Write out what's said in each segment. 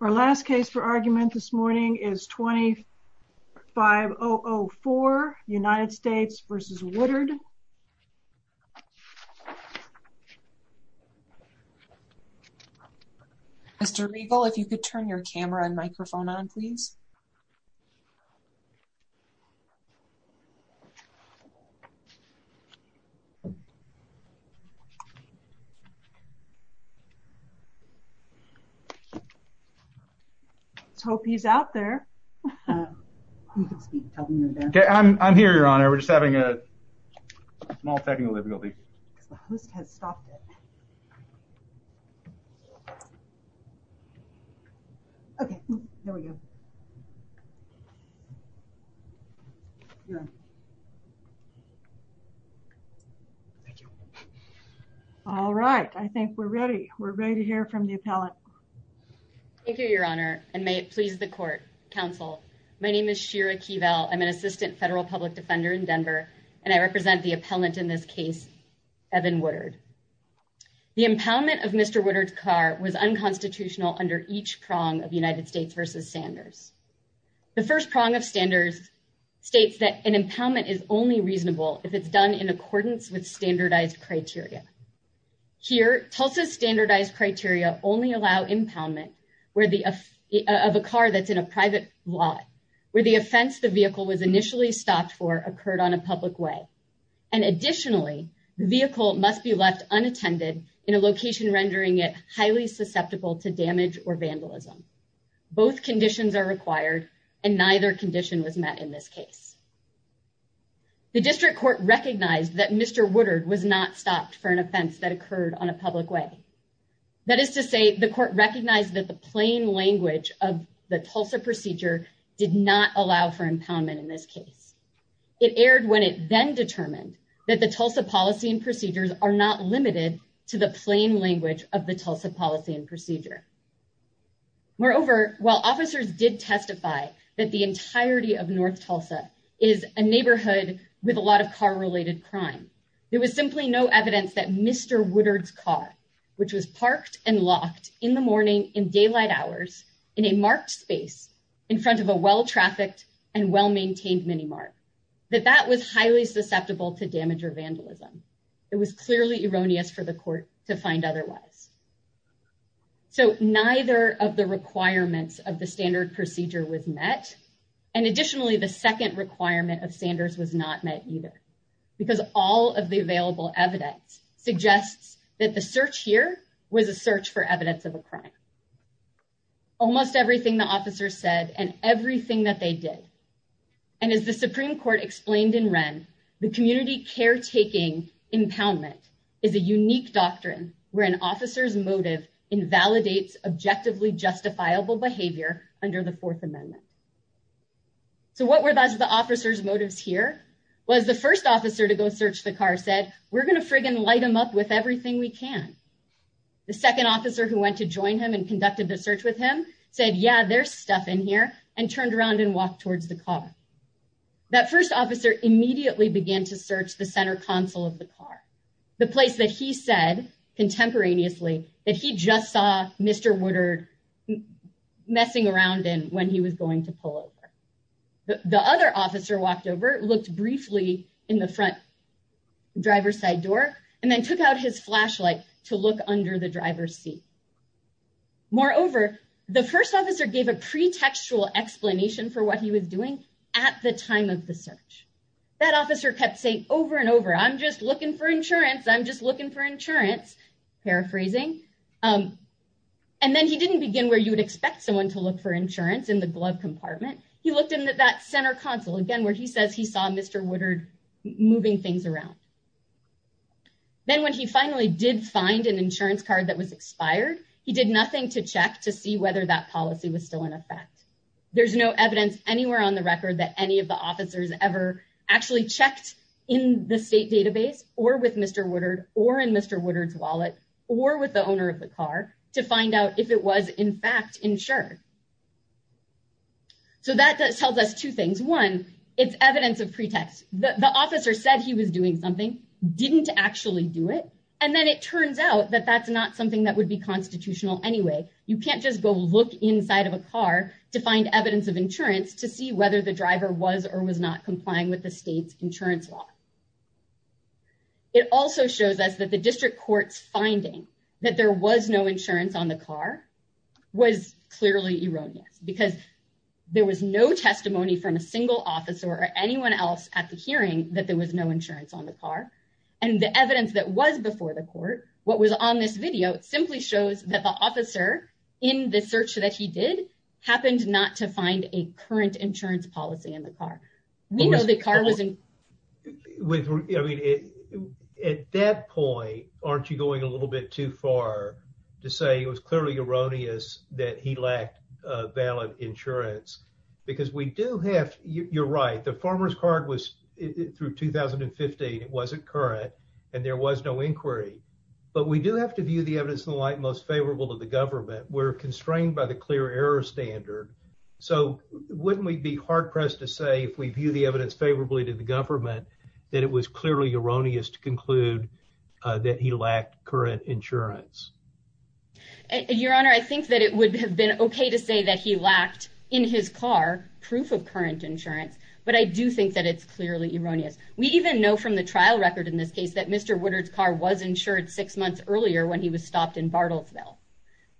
Our last case for argument this morning is 25-004, United States v. Woodard. Mr. Regal, if you could turn your camera and microphone on, please. Let's hope he's out there. I'm here, Your Honor. We're just having a small technical difficulty. All right. I think we're ready. We're ready to hear from the appellant. Thank you, Your Honor, and may it please the court, counsel. My name is Shira Keevel. I'm an assistant federal public defender in Denver, and I represent the appellant in this case, Evan Woodard. The impoundment of Mr. Woodard's car was unconstitutional under each prong of United States v. Sanders. The first prong of Sanders states that an impoundment is only reasonable if it's done in accordance with standardized criteria. Here, Tulsa's standardized criteria only allow impoundment of a car that's in a private lot, where the offense the vehicle was initially stopped for occurred on a public way. And additionally, the vehicle must be left unattended in a location rendering it highly susceptible to damage or vandalism. Both conditions are required, and neither condition was met in this case. The district court recognized that Mr. Woodard was not stopped for an offense that occurred on a public way. That is to say, the court recognized that the plain language of the Tulsa procedure did not allow for impoundment in this case. It erred when it then determined that the Tulsa policy and procedures are not limited to the plain language of the Tulsa policy and procedure. Moreover, while officers did testify that the entirety of North Tulsa is a neighborhood with a lot of car-related crime, there was simply no evidence that Mr. Woodard's car, which was parked and locked in the morning in daylight hours, in a marked space in front of a well-trafficked and well-maintained mini-mart, that that was highly susceptible to damage or vandalism. It was clearly erroneous for the court to find otherwise. So, neither of the requirements of the standard procedure was met, and additionally, the second requirement of Sanders was not met either, because all of the available evidence suggests that the search here was a search for evidence of a crime. Almost everything the officers said and everything that they did, and as the Supreme Court explained in Wren, the community caretaking impoundment is a unique doctrine where an officer's motive invalidates objectively justifiable behavior under the Fourth Amendment. So, what were the officers' motives here? Well, as the first officer to go search the car said, we're going to friggin' light him up with everything we can. The second officer who went to join him and conducted the search with him said, yeah, there's stuff in here, and turned around and walked towards the car. That first officer immediately began to search the center console of the car, the place that he said contemporaneously that he just saw Mr. Woodard messing around in when he was going to pull over. The other officer walked over, looked briefly in the front driver's side door, and then took out his flashlight to look under the driver's seat. Moreover, the first officer gave a pretextual explanation for what he was doing at the time of the search. That officer kept saying over and over, I'm just looking for insurance. I'm just looking for insurance, paraphrasing. And then he didn't begin where you would expect someone to look for insurance in the glove compartment. He looked in that center console again where he says he saw Mr. Woodard moving things around. Then when he finally did find an insurance card that was expired, he did nothing to check to see whether that policy was still in effect. There's no evidence anywhere on the record that any of the officers ever actually checked in the state database or with Mr. Woodard or in Mr. Woodard's wallet or with the owner of the car to find out if it was in fact insured. So that tells us two things. One, it's evidence of pretext. The officer said he was doing something, didn't actually do it, and then it turns out that that's not something that would be constitutional anyway. You can't just go look inside of a car to find evidence of insurance to see whether the driver was or was not complying with the state's insurance law. It also shows us that the district court's finding that there was no insurance on the car was clearly erroneous because there was no testimony from a single officer or anyone else at the hearing that there was no insurance on the car. And the evidence that was before the court, what was on this video, simply shows that the officer in the search that he did happened not to find a current insurance policy in the car. At that point, aren't you going a little bit too far to say it was clearly erroneous that he lacked valid insurance? Because we do have, you're right, the farmer's card was through 2015. It wasn't current and there was no inquiry. But we do have to view the evidence in the light most favorable to the government. We're constrained by the clear error standard. So wouldn't we be hard-pressed to say, if we view the evidence favorably to the government, that it was clearly erroneous to conclude that he lacked current insurance? Your Honor, I think that it would have been okay to say that he lacked, in his car, proof of current insurance. But I do think that it's clearly erroneous. We even know from the trial record in this case that Mr. Woodard's car was insured six months earlier when he was stopped in Bartlesville.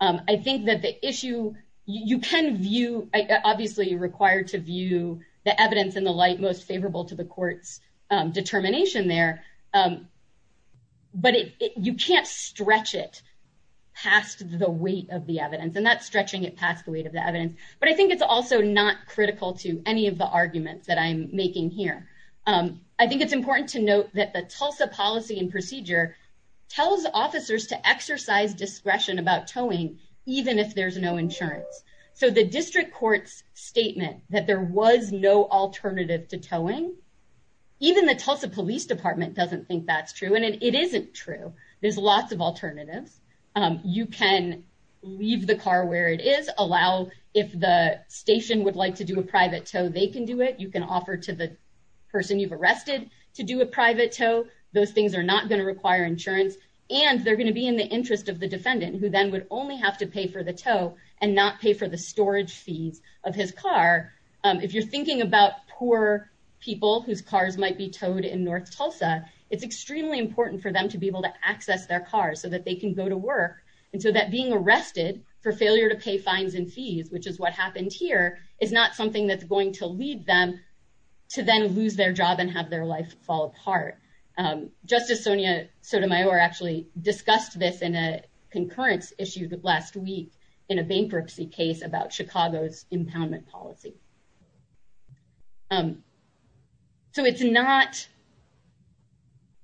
I think that the issue, you can view, obviously you're required to view the evidence in the light most favorable to the court's determination there. But you can't stretch it past the weight of the evidence. And that's stretching it past the weight of the evidence. But I think it's also not critical to any of the arguments that I'm making here. I think it's important to note that the Tulsa policy and procedure tells officers to exercise discretion about towing, even if there's no insurance. So the district court's statement that there was no alternative to towing, even the Tulsa Police Department doesn't think that's true. And it isn't true. There's lots of alternatives. You can leave the car where it is, allow if the station would like to do a private tow, they can do it. You can offer to the person you've arrested to do a private tow. Those things are not going to require insurance. And they're going to be in the interest of the defendant, who then would only have to pay for the tow and not pay for the storage fees of his car. If you're thinking about poor people whose cars might be towed in North Tulsa, it's extremely important for them to be able to access their cars so that they can go to work. And so that being arrested for failure to pay fines and fees, which is what happened here, is not something that's going to lead them to then lose their job and have their life fall apart. Justice Sonia Sotomayor actually discussed this in a concurrence issued last week in a bankruptcy case about Chicago's impoundment policy. So it's not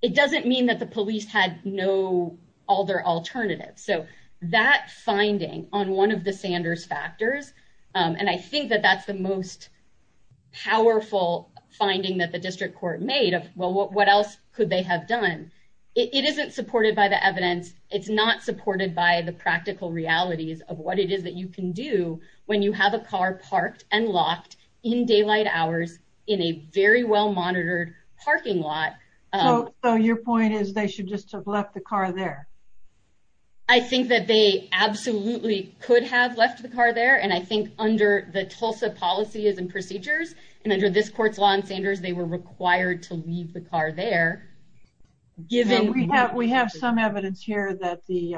it doesn't mean that the police had no other alternative. So that finding on one of the Sanders factors, and I think that that's the most powerful finding that the district court made of, well, what else could they have done? It isn't supported by the evidence. It's not supported by the practical realities of what it is that you can do when you have a car parked and locked in daylight hours in a very well monitored parking lot. So your point is they should just have left the car there. I think that they absolutely could have left the car there. And I think under the Tulsa policies and procedures, and under this court's law in Sanders, they were required to leave the car there. We have some evidence here that the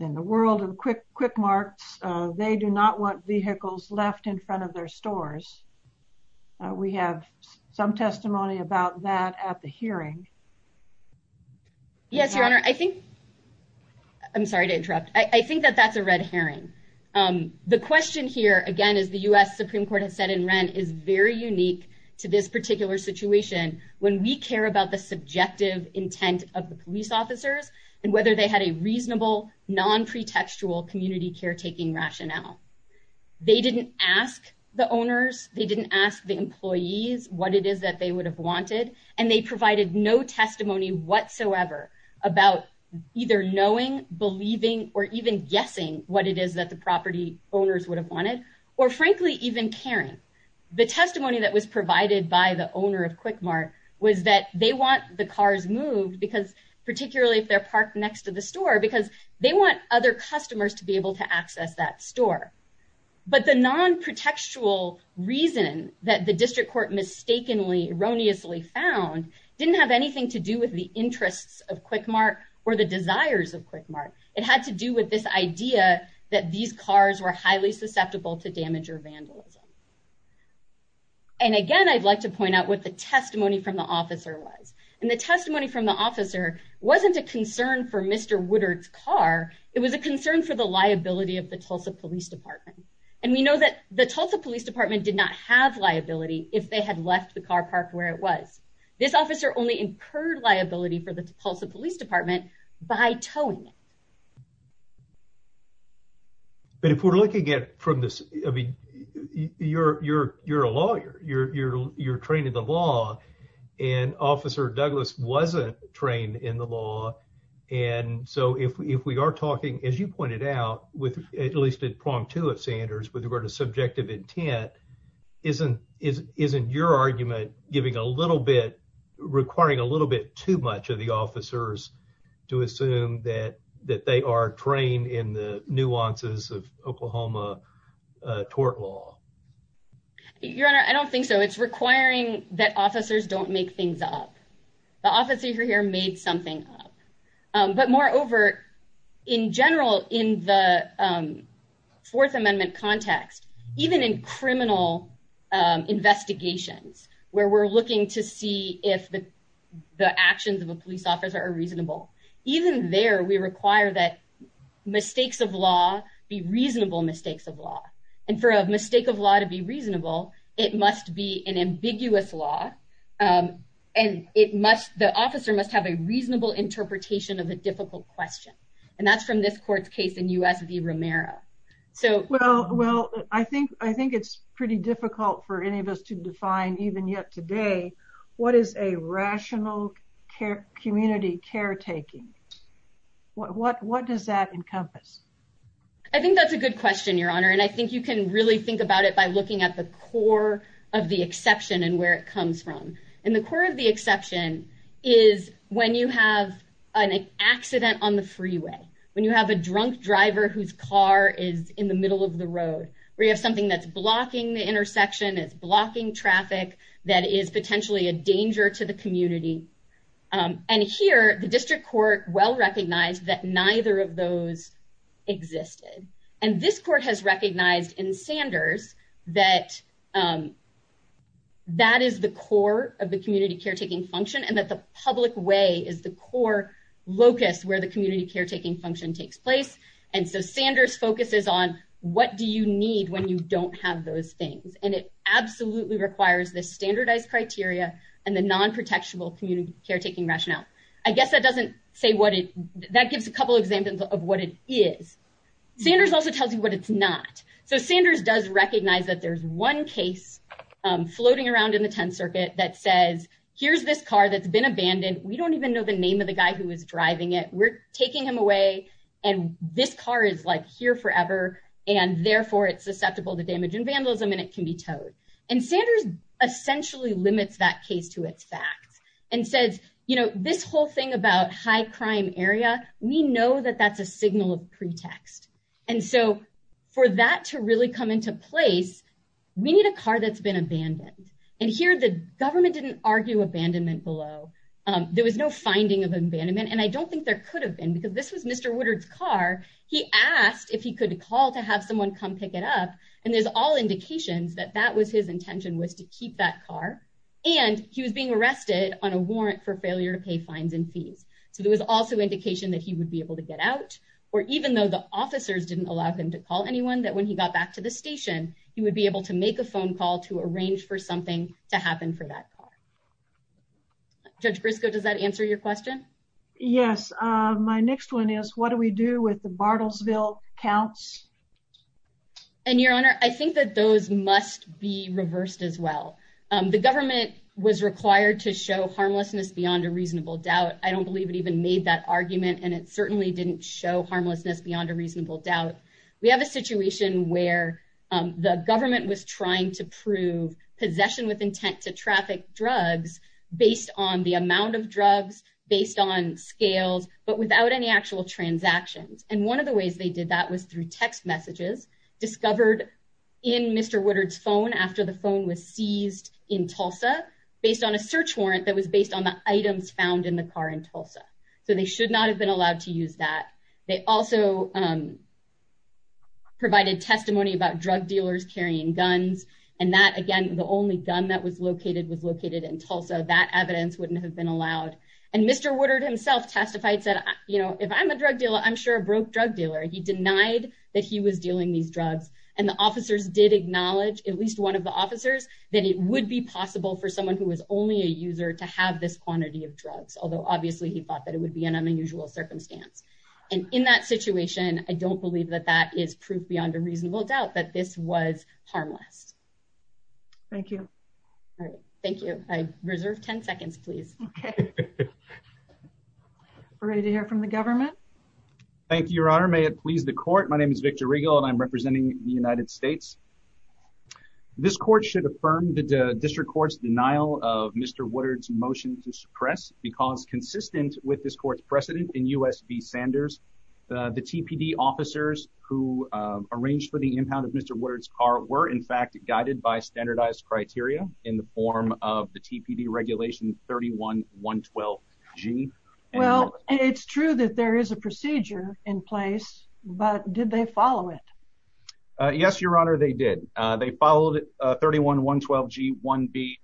in the world of quick quick marks, they do not want vehicles left in front of their stores. We have some testimony about that at the hearing. Yes, Your Honor, I think. I'm sorry to interrupt. I think that that's a red herring. The question here, again, is the US Supreme Court has said in rent is very unique to this particular situation when we care about the subjective intent of the police officers, and whether they had a reasonable non pretextual community caretaking rationale. They didn't ask the owners. They didn't ask the employees what it is that they would have wanted, and they provided no testimony whatsoever about either knowing, believing, or even guessing what it is that the property owners would have wanted, or frankly, even caring. The testimony that was provided by the owner of quick mark was that they want the cars moved because particularly if they're parked next to the store because they want other customers to be able to access that store. But the non pretextual reason that the district court mistakenly erroneously found didn't have anything to do with the interests of quick mark, or the desires of quick mark, it had to do with this idea that these cars were highly susceptible to damage or vandalism. And again, I'd like to point out what the testimony from the officer was. And the testimony from the officer wasn't a concern for Mr. Woodard's car, it was a concern for the liability of the Tulsa Police Department. And we know that the Tulsa Police Department did not have liability, if they had left the car park where it was. This officer only incurred liability for the Tulsa Police Department by towing it. But if we're looking at from this, I mean, you're, you're, you're a lawyer, you're, you're, you're trained in the law, and Officer Douglas wasn't trained in the law. And so if we are talking, as you pointed out, with at least a prompt to have Sanders with regard to subjective intent isn't isn't isn't your argument, giving a little bit requiring a little bit too much of the officers to assume that that they are trained in the nuances of Oklahoma tort law. Your Honor, I don't think so. It's requiring that officers don't make things up. The officer here made something up. But moreover, in general, in the Fourth Amendment context, even in criminal investigations, where we're looking to see if the actions of a police officer are reasonable. Even there, we require that mistakes of law be reasonable mistakes of law. And for a mistake of law to be reasonable, it must be an ambiguous law. And it must, the officer must have a reasonable interpretation of a difficult question. And that's from this court's case in U.S. v. Romero. Well, well, I think I think it's pretty difficult for any of us to define even yet today. What is a rational care community caretaking? What what what does that encompass? I think that's a good question, Your Honor. And I think you can really think about it by looking at the core of the exception and where it comes from. And the core of the exception is when you have an accident on the freeway, when you have a drunk driver whose car is in the middle of the road, where you have something that's blocking the intersection, it's blocking traffic that is potentially a danger to the community. And here, the district court well recognized that neither of those existed. And this court has recognized in Sanders that that is the core of the community caretaking function and that the public way is the core locus where the community caretaking function takes place. And so Sanders focuses on what do you need when you don't have those things? And it absolutely requires the standardized criteria and the non-protectional community caretaking rationale. I guess that doesn't say what it that gives a couple of examples of what it is. Sanders also tells you what it's not. So Sanders does recognize that there's one case floating around in the 10th Circuit that says, here's this car that's been abandoned. We don't even know the name of the guy who was driving it. We're taking him away. And this car is like here forever. And therefore, it's susceptible to damage and vandalism and it can be towed. And Sanders essentially limits that case to its facts and says, you know, this whole thing about high crime area, we know that that's a signal of pretext. And so for that to really come into place, we need a car that's been abandoned. And here the government didn't argue abandonment below. There was no finding of abandonment. And I don't think there could have been because this was Mr. Woodard's car. He asked if he could call to have someone come pick it up. And there's all indications that that was his intention was to keep that car and he was being arrested on a warrant for failure to pay fines and fees. So there was also indication that he would be able to get out or even though the officers didn't allow him to call anyone that when he got back to the station, he would be able to make a phone call to arrange for something to happen for that car. Judge Briscoe does that answer your question. Yes. My next one is what do we do with the Bartlesville counts. And your honor, I think that those must be reversed as well. The government was required to show harmlessness beyond a reasonable doubt. I don't believe it even made that argument and it certainly didn't show harmlessness beyond a reasonable doubt. We have a situation where the government was trying to prove possession with intent to traffic drugs based on the amount of drugs based on scales but without any actual transactions. And one of the ways they did that was through text messages discovered in Mr. Woodard's phone after the phone was seized in Tulsa based on a search warrant that was based on the items found in the car in Tulsa. So they should not have been allowed to use that. They also provided testimony about drug dealers carrying guns. And that again, the only gun that was located was located in Tulsa. That evidence wouldn't have been allowed. And Mr. Woodard himself testified said, you know, if I'm a drug dealer, I'm sure a broke drug dealer. He denied that he was dealing these drugs and the officers did acknowledge at least one of the officers that it would be possible for someone who was only a user to have this quantity of drugs, although obviously he thought that it would be an unusual circumstance. And in that situation, I don't believe that that is proof beyond a reasonable doubt that this was harmless. Thank you. Thank you. I reserve 10 seconds, please. Ready to hear from the government. Thank you, Your Honor. May it please the court. My name is Victor Regal and I'm representing the United States. This court should affirm the district court's denial of Mr. Woodard's motion to suppress because consistent with this court's precedent in U.S. v. Sanders, the TPD officers who arranged for the impound of Mr. Woodard's car were in fact guided by standardized criteria in the form of the TPD regulation 31-112-G. Well, it's true that there is a procedure in place, but did they follow it? Yes, Your Honor, they did. They followed 31-112-G-1B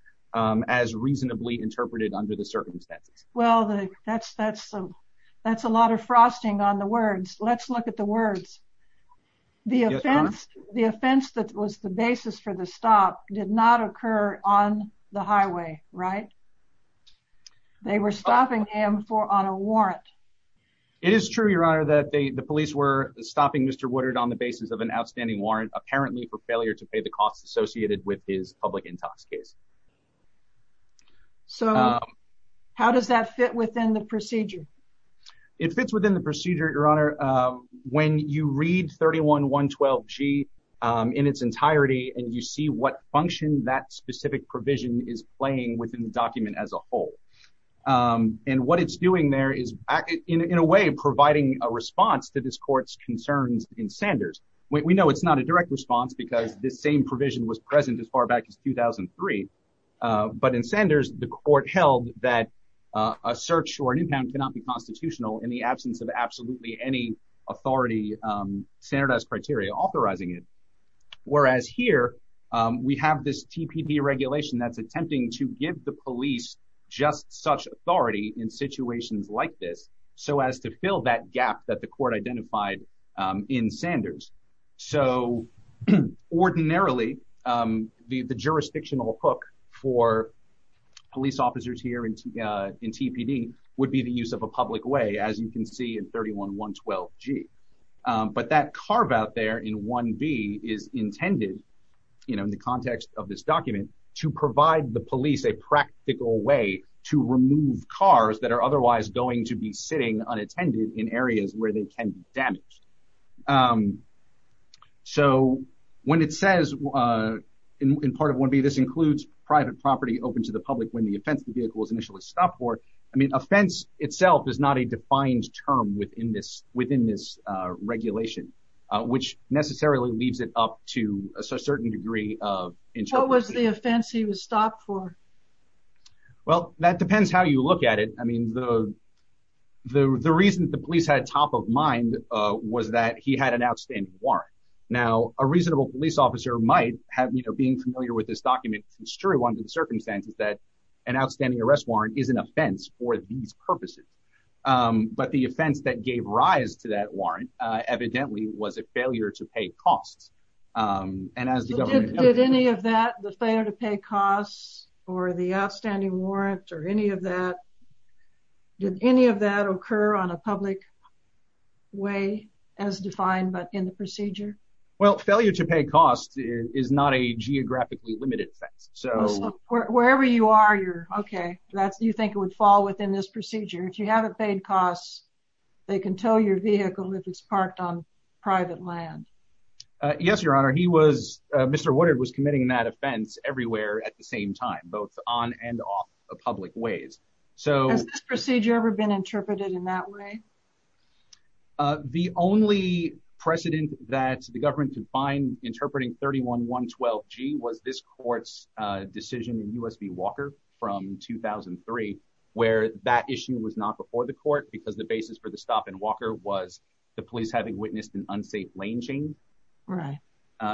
as reasonably interpreted under the circumstances. Well, that's a lot of frosting on the words. Let's look at the words. The offense that was the basis for the stop did not occur on the highway, right? They were stopping him on a warrant. It is true, Your Honor, that the police were stopping Mr. Woodard on the basis of an outstanding warrant, apparently for failure to pay the costs associated with his public intox case. So how does that fit within the procedure? It fits within the procedure, Your Honor, when you read 31-112-G in its entirety and you see what function that specific provision is playing within the document as a whole. And what it's doing there is in a way providing a response to this court's concerns in Sanders. We know it's not a direct response because this same provision was present as far back as 2003. But in Sanders, the court held that a search or an impound cannot be constitutional in the absence of absolutely any authority standardized criteria authorizing it. Whereas here, we have this TPD regulation that's attempting to give the police just such authority in situations like this so as to fill that gap that the court identified in Sanders. So ordinarily, the jurisdictional hook for police officers here in TPD would be the use of a public way, as you can see in 31-112-G. But that carve out there in 1B is intended, you know, in the context of this document, to provide the police a practical way to remove cars that are otherwise going to be sitting unattended in areas where they can be damaged. So when it says in part of 1B, this includes private property open to the public when the offense of the vehicle is initially stopped for, I mean, offense itself is not a defined term within this regulation, which necessarily leaves it up to a certain degree. What was the offense he was stopped for? Well, that depends how you look at it. I mean, the reason the police had top of mind was that he had an outstanding warrant. Now, a reasonable police officer might have, you know, being familiar with this document, it's true under the circumstances that an outstanding arrest warrant is an offense for these purposes. But the offense that gave rise to that warrant evidently was a failure to pay costs. Did any of that, the failure to pay costs or the outstanding warrant or any of that, did any of that occur on a public way as defined, but in the procedure? Well, failure to pay costs is not a geographically limited offense. So wherever you are, you're okay. You think it would fall within this procedure. If you haven't paid costs, they can tow your vehicle if it's parked on private land. Yes, Your Honor. He was, Mr. Woodard was committing that offense everywhere at the same time, both on and off public ways. Has this procedure ever been interpreted in that way? The only precedent that the government could find interpreting 31112G was this court's decision in U.S. v. Walker from 2003, where that issue was not before the court because the basis for the stop in Walker was the police having witnessed an unsafe lane change.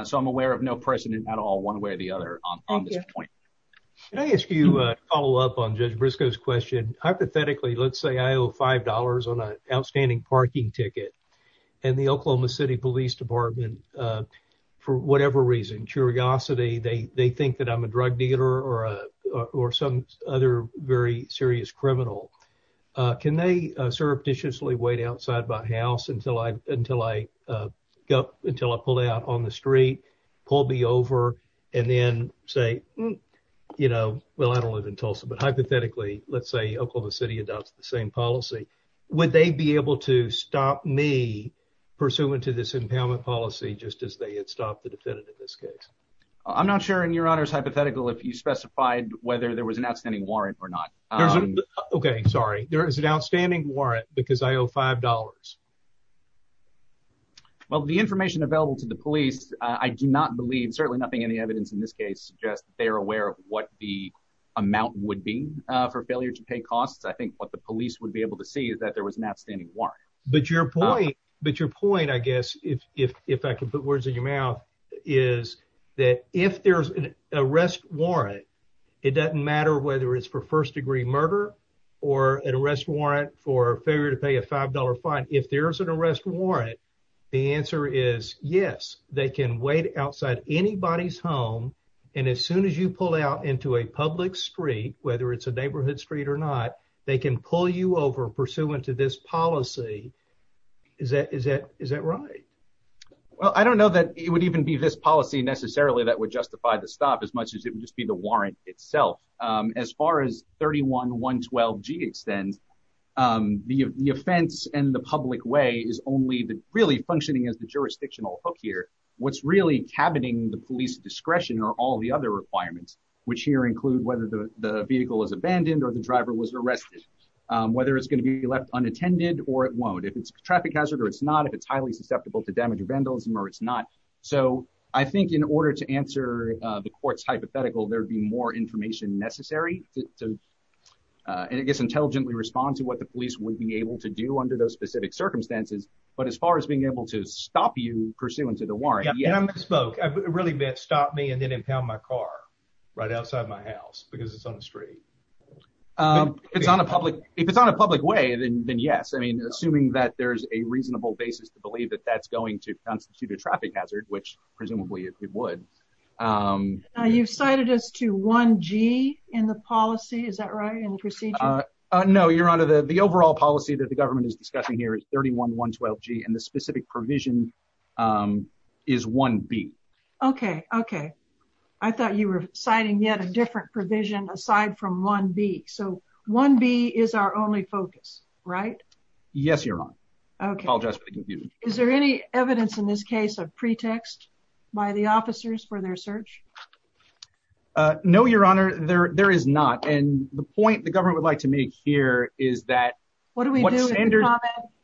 So I'm aware of no precedent at all, one way or the other on this point. Can I ask you a follow up on Judge Briscoe's question? Hypothetically, let's say I owe $5 on an outstanding parking ticket. And the Oklahoma City Police Department, for whatever reason, curiosity, they think that I'm a drug dealer or some other very serious criminal. Can they surreptitiously wait outside my house until I until I go until I pull out on the street, pull me over and then say, you know, well, I don't live in Tulsa, but hypothetically, let's say Oklahoma City adopts the same policy. Would they be able to stop me pursuant to this impoundment policy just as they had stopped the defendant in this case? I'm not sure in your honor's hypothetical if you specified whether there was an outstanding warrant or not. OK, sorry. There is an outstanding warrant because I owe five dollars. Well, the information available to the police, I do not believe certainly nothing in the evidence in this case suggests they are aware of what the amount would be for failure to pay costs. I think what the police would be able to see is that there was an outstanding warrant. But your point, but your point, I guess, if if I could put words in your mouth, is that if there's an arrest warrant, it doesn't matter whether it's for first degree murder or an arrest warrant for failure to pay a five dollar fine. If there is an arrest warrant, the answer is yes, they can wait outside anybody's home. And as soon as you pull out into a public street, whether it's a neighborhood street or not, they can pull you over pursuant to this policy. Is that is that is that right? Well, I don't know that it would even be this policy necessarily that would justify the stop as much as it would just be the warrant itself. As far as thirty one one twelve G extends the offense and the public way is only really functioning as the jurisdictional hook here. What's really happening, the police discretion or all the other requirements, which here include whether the vehicle is abandoned or the driver was arrested, whether it's going to be left unattended or it won't. If it's a traffic hazard or it's not, if it's highly susceptible to damage or vandalism or it's not. So I think in order to answer the court's hypothetical, there would be more information necessary to, I guess, intelligently respond to what the police would be able to do under those specific circumstances. But as far as being able to stop you pursuant to the warrant, you spoke, I really meant stop me and then impound my car right outside my house because it's on the street. It's on a public, if it's on a public way, then yes. I mean, assuming that there's a reasonable basis to believe that that's going to constitute a traffic hazard, which presumably it would. You've cited us to one G in the policy. Is that right? In the procedure? No, Your Honor, the overall policy that the government is discussing here is thirty one one twelve G and the specific provision is one B. Okay. Okay. I thought you were citing yet a different provision aside from one B. So one B is our only focus, right? Yes, Your Honor. I apologize for the confusion. Is there any evidence in this case of pretext by the officers for their search? No, Your Honor, there is not. And the point the government would like to make here is that what standard.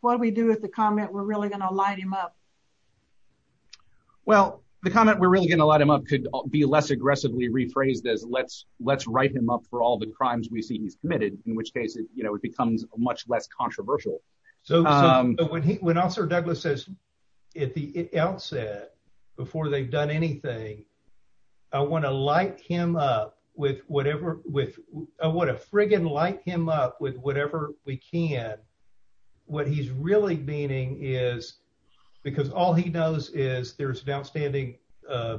What do we do with the comment? We're really going to light him up. Well, the comment we're really going to light him up could be less aggressively rephrased as let's let's write him up for all the crimes we see he's committed, in which case, you know, it becomes much less controversial. So when Officer Douglas says at the outset, before they've done anything, I want to light him up with whatever with what a friggin light him up with whatever we can. What he's really meaning is because all he knows is there's an outstanding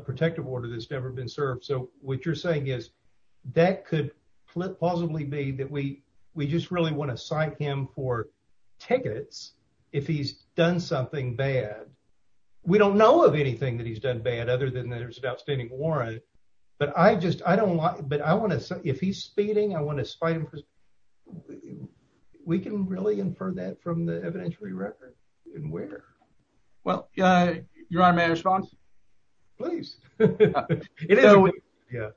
protective order that's never been served. So what you're saying is that could possibly be that we we just really want to cite him for tickets if he's done something bad. We don't know of anything that he's done bad other than there's an outstanding warrant. But I just I don't want but I want to say if he's speeding, I want to spite him. We can really infer that from the evidentiary record. And where? Well, Your Honor, may I respond? Please. Yeah.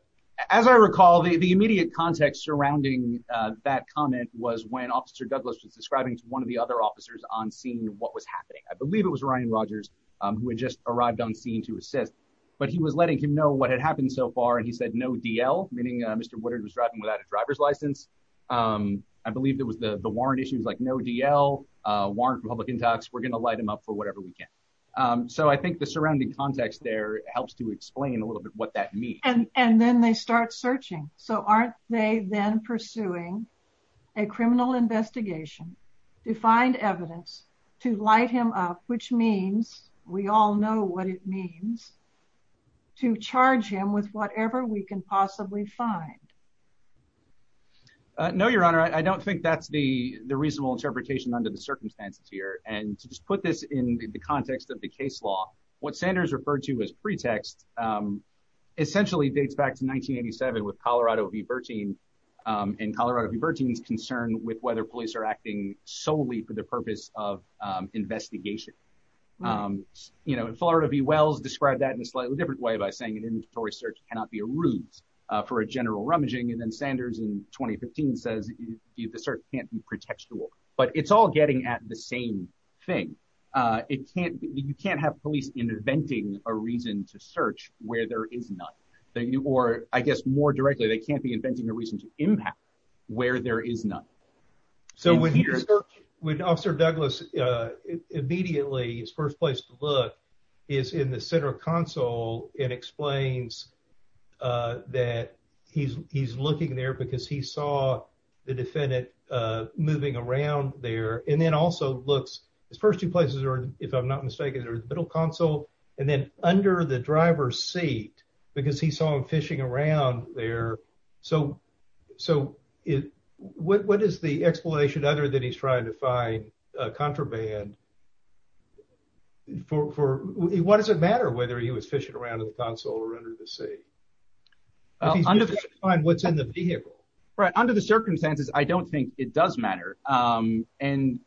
As I recall, the immediate context surrounding that comment was when Officer Douglas was describing to one of the other officers on scene what was happening. I believe it was Ryan Rogers who had just arrived on scene to assist, but he was letting him know what had happened so far. And he said, no DL, meaning Mr. Woodard was driving without a driver's license. I believe there was the warrant issues like no DL, warrant for public intox. We're going to light him up for whatever we can. So I think the surrounding context there helps to explain a little bit what that means. And then they start searching. So aren't they then pursuing a criminal investigation to find evidence to light him up, which means we all know what it means to charge him with whatever we can possibly find? No, Your Honor, I don't think that's the reasonable interpretation under the circumstances here. And to just put this in the context of the case law, what Sanders referred to as pretext essentially dates back to 1987 with Colorado v. Bertine and Colorado v. Bertine's concern with whether police are acting solely for the purpose of investigation. You know, Florida v. Wells described that in a slightly different way by saying an inventory search cannot be a route for a general rummaging. And then Sanders in 2015 says the search can't be pretextual. But it's all getting at the same thing. You can't have police inventing a reason to search where there is none. Or I guess more directly, they can't be inventing a reason to impact where there is none. So when Officer Douglas immediately, his first place to look is in the center console and explains that he's looking there because he saw the defendant moving around there. And then also looks, his first two places, if I'm not mistaken, are the middle console and then under the driver's seat because he saw him fishing around there. So what is the explanation other than he's trying to find contraband? What does it matter whether he was fishing around in the console or under the seat? He's trying to find what's in the vehicle. Right. Under the circumstances, I don't think it does matter. I mean,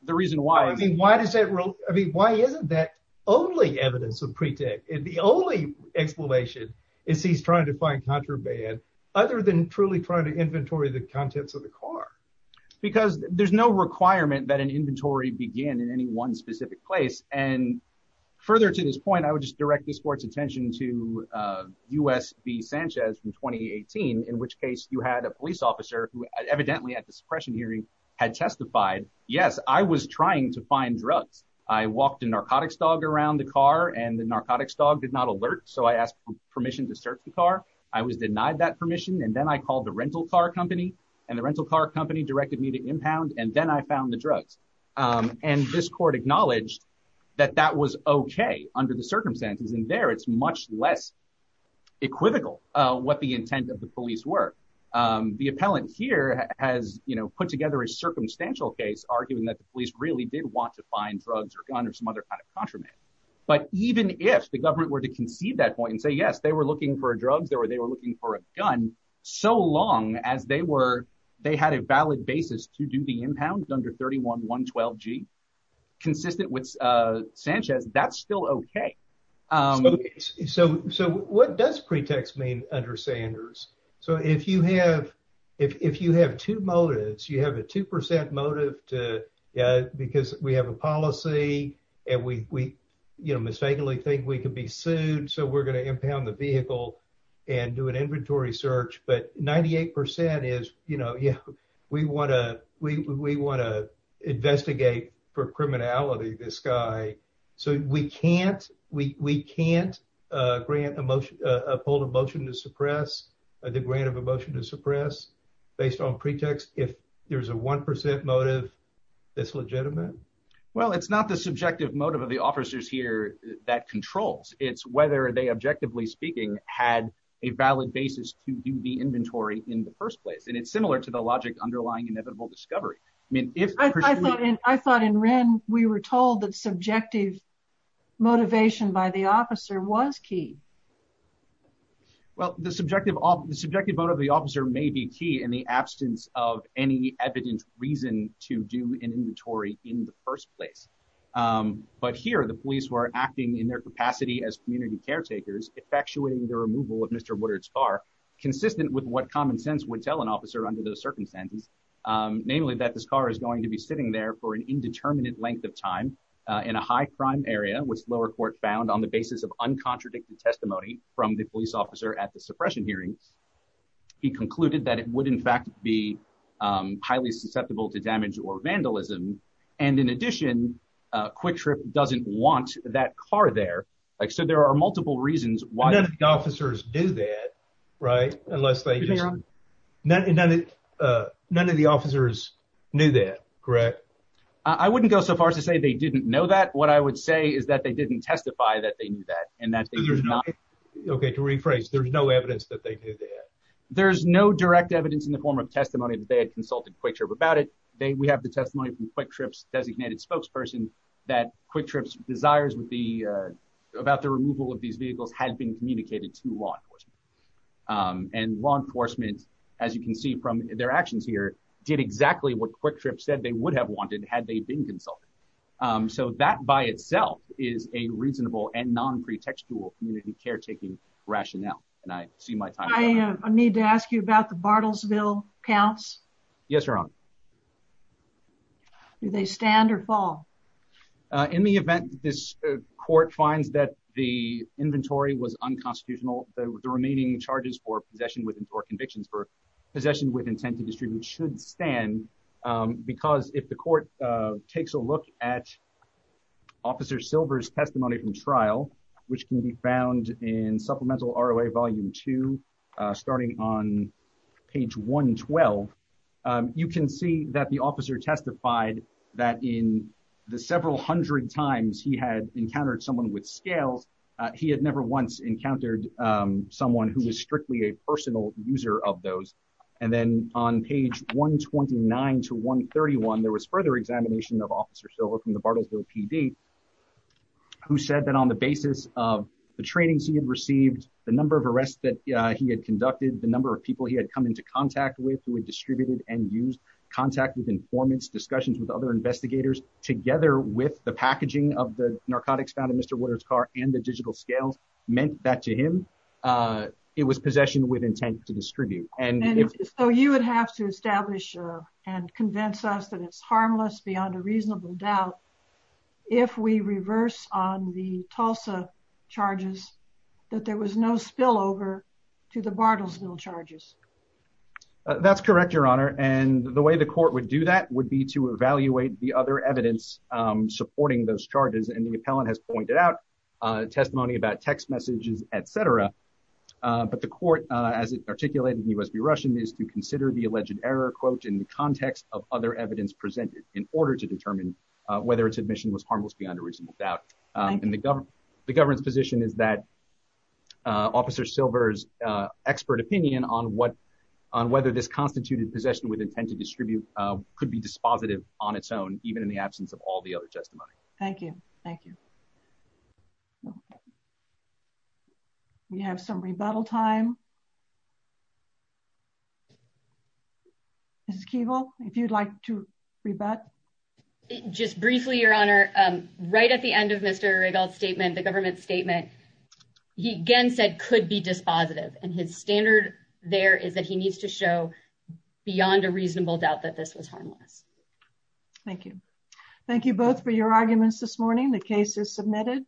why isn't that only evidence of pretext? The only explanation is he's trying to find contraband other than truly trying to inventory the contents of the car. Because there's no requirement that an inventory begin in any one specific place. And further to this point, I would just direct this court's attention to U.S.B. Sanchez from 2018, in which case you had a police officer who evidently at the suppression hearing had testified, yes, I was trying to find drugs. I walked a narcotics dog around the car and the narcotics dog did not alert. So I asked permission to search the car. I was denied that permission. And then I called the rental car company and the rental car company directed me to impound. And then I found the drugs. And this court acknowledged that that was OK under the circumstances. And there it's much less equivocal what the intent of the police were. The appellant here has put together a circumstantial case, arguing that the police really did want to find drugs or gun or some other kind of contraband. But even if the government were to concede that point and say, yes, they were looking for drugs or they were looking for a gun so long as they were, they had a valid basis to do the impound under 31.112G, consistent with Sanchez, that's still OK. So what does pretext mean under Sanders? So if you have if you have two motives, you have a 2 percent motive to because we have a policy and we mistakenly think we could be sued. So we're going to impound the vehicle and do an inventory search. But 98 percent is, you know, we want to we want to investigate for criminality this guy. So we can't we can't grant a motion, a pulled a motion to suppress the grant of a motion to suppress based on pretext. If there's a 1 percent motive, it's legitimate. Well, it's not the subjective motive of the officers here that controls. It's whether they, objectively speaking, had a valid basis to do the inventory in the first place. And it's similar to the logic underlying inevitable discovery. I mean, if I thought I thought in Ren, we were told that subjective motivation by the officer was key. Well, the subjective, the subjective motive of the officer may be key in the absence of any evident reason to do an inventory in the first place. But here are the police who are acting in their capacity as community caretakers, effectuating the removal of Mr. consistent with what common sense would tell an officer under those circumstances, namely that this car is going to be sitting there for an indeterminate length of time in a high crime area, which lower court found on the basis of uncontradicted testimony from the police officer at the suppression hearings. He concluded that it would, in fact, be highly susceptible to damage or vandalism. And in addition, Quick Trip doesn't want that car there. So there are multiple reasons why the officers do that. Right. Unless they know that none of the officers knew that. Correct. I wouldn't go so far as to say they didn't know that. What I would say is that they didn't testify that they knew that. And that's OK. To rephrase, there's no evidence that they do that. There's no direct evidence in the form of testimony that they had consulted about it. We have the testimony from Quick Trip's designated spokesperson that Quick Trip's desires with the about the removal of these vehicles had been communicated to law enforcement. And law enforcement, as you can see from their actions here, did exactly what Quick Trip said they would have wanted had they been consulted. So that by itself is a reasonable and non pretextual community caretaking rationale. And I see my time. I need to ask you about the Bartlesville counts. Yes, Your Honor. Do they stand or fall in the event this court finds that the inventory was unconstitutional? The remaining charges for possession within four convictions for possession with intent to distribute should stand. Because if the court takes a look at Officer Silver's testimony from trial, which can be found in Supplemental R.O.A. Volume two, starting on page 112, you can see that the officer testified that in the several hundred times he had encountered someone with scales, he had never once encountered someone who was strictly a personal user of those. And then on page 129 to 131, there was further examination of Officer Silver from the Bartlesville PD, who said that on the basis of the trainings he had received, the number of arrests that he had conducted, the number of people he had come into contact with, who had distributed and used contact with informants, discussions with other investigators, together with the packaging of the narcotics found in Mr. Waters car and the digital scales meant that to him it was possession with intent to distribute. And so you would have to establish and convince us that it's harmless beyond a reasonable doubt. If we reverse on the Tulsa charges, that there was no spillover to the Bartlesville charges. That's correct, Your Honor. And the way the court would do that would be to evaluate the other evidence supporting those charges. And the appellant has pointed out testimony about text messages, et cetera. But the court, as it articulated in USB Russian, is to consider the alleged error, quote, in the context of other evidence presented in order to determine whether its admission was harmless beyond a reasonable doubt. And the government, the government's position is that Officer Silver's expert opinion on what, on whether this constituted possession with intent to distribute could be dispositive on its own, even in the absence of all the other testimony. Thank you. Thank you. We have some rebuttal time. Keval, if you'd like to rebut. Just briefly, Your Honor. Right at the end of Mr. Regal's statement, the government statement, he again said could be dispositive. And his standard there is that he needs to show beyond a reasonable doubt that this was harmless. Thank you. Thank you both for your arguments this morning. The case is submitted.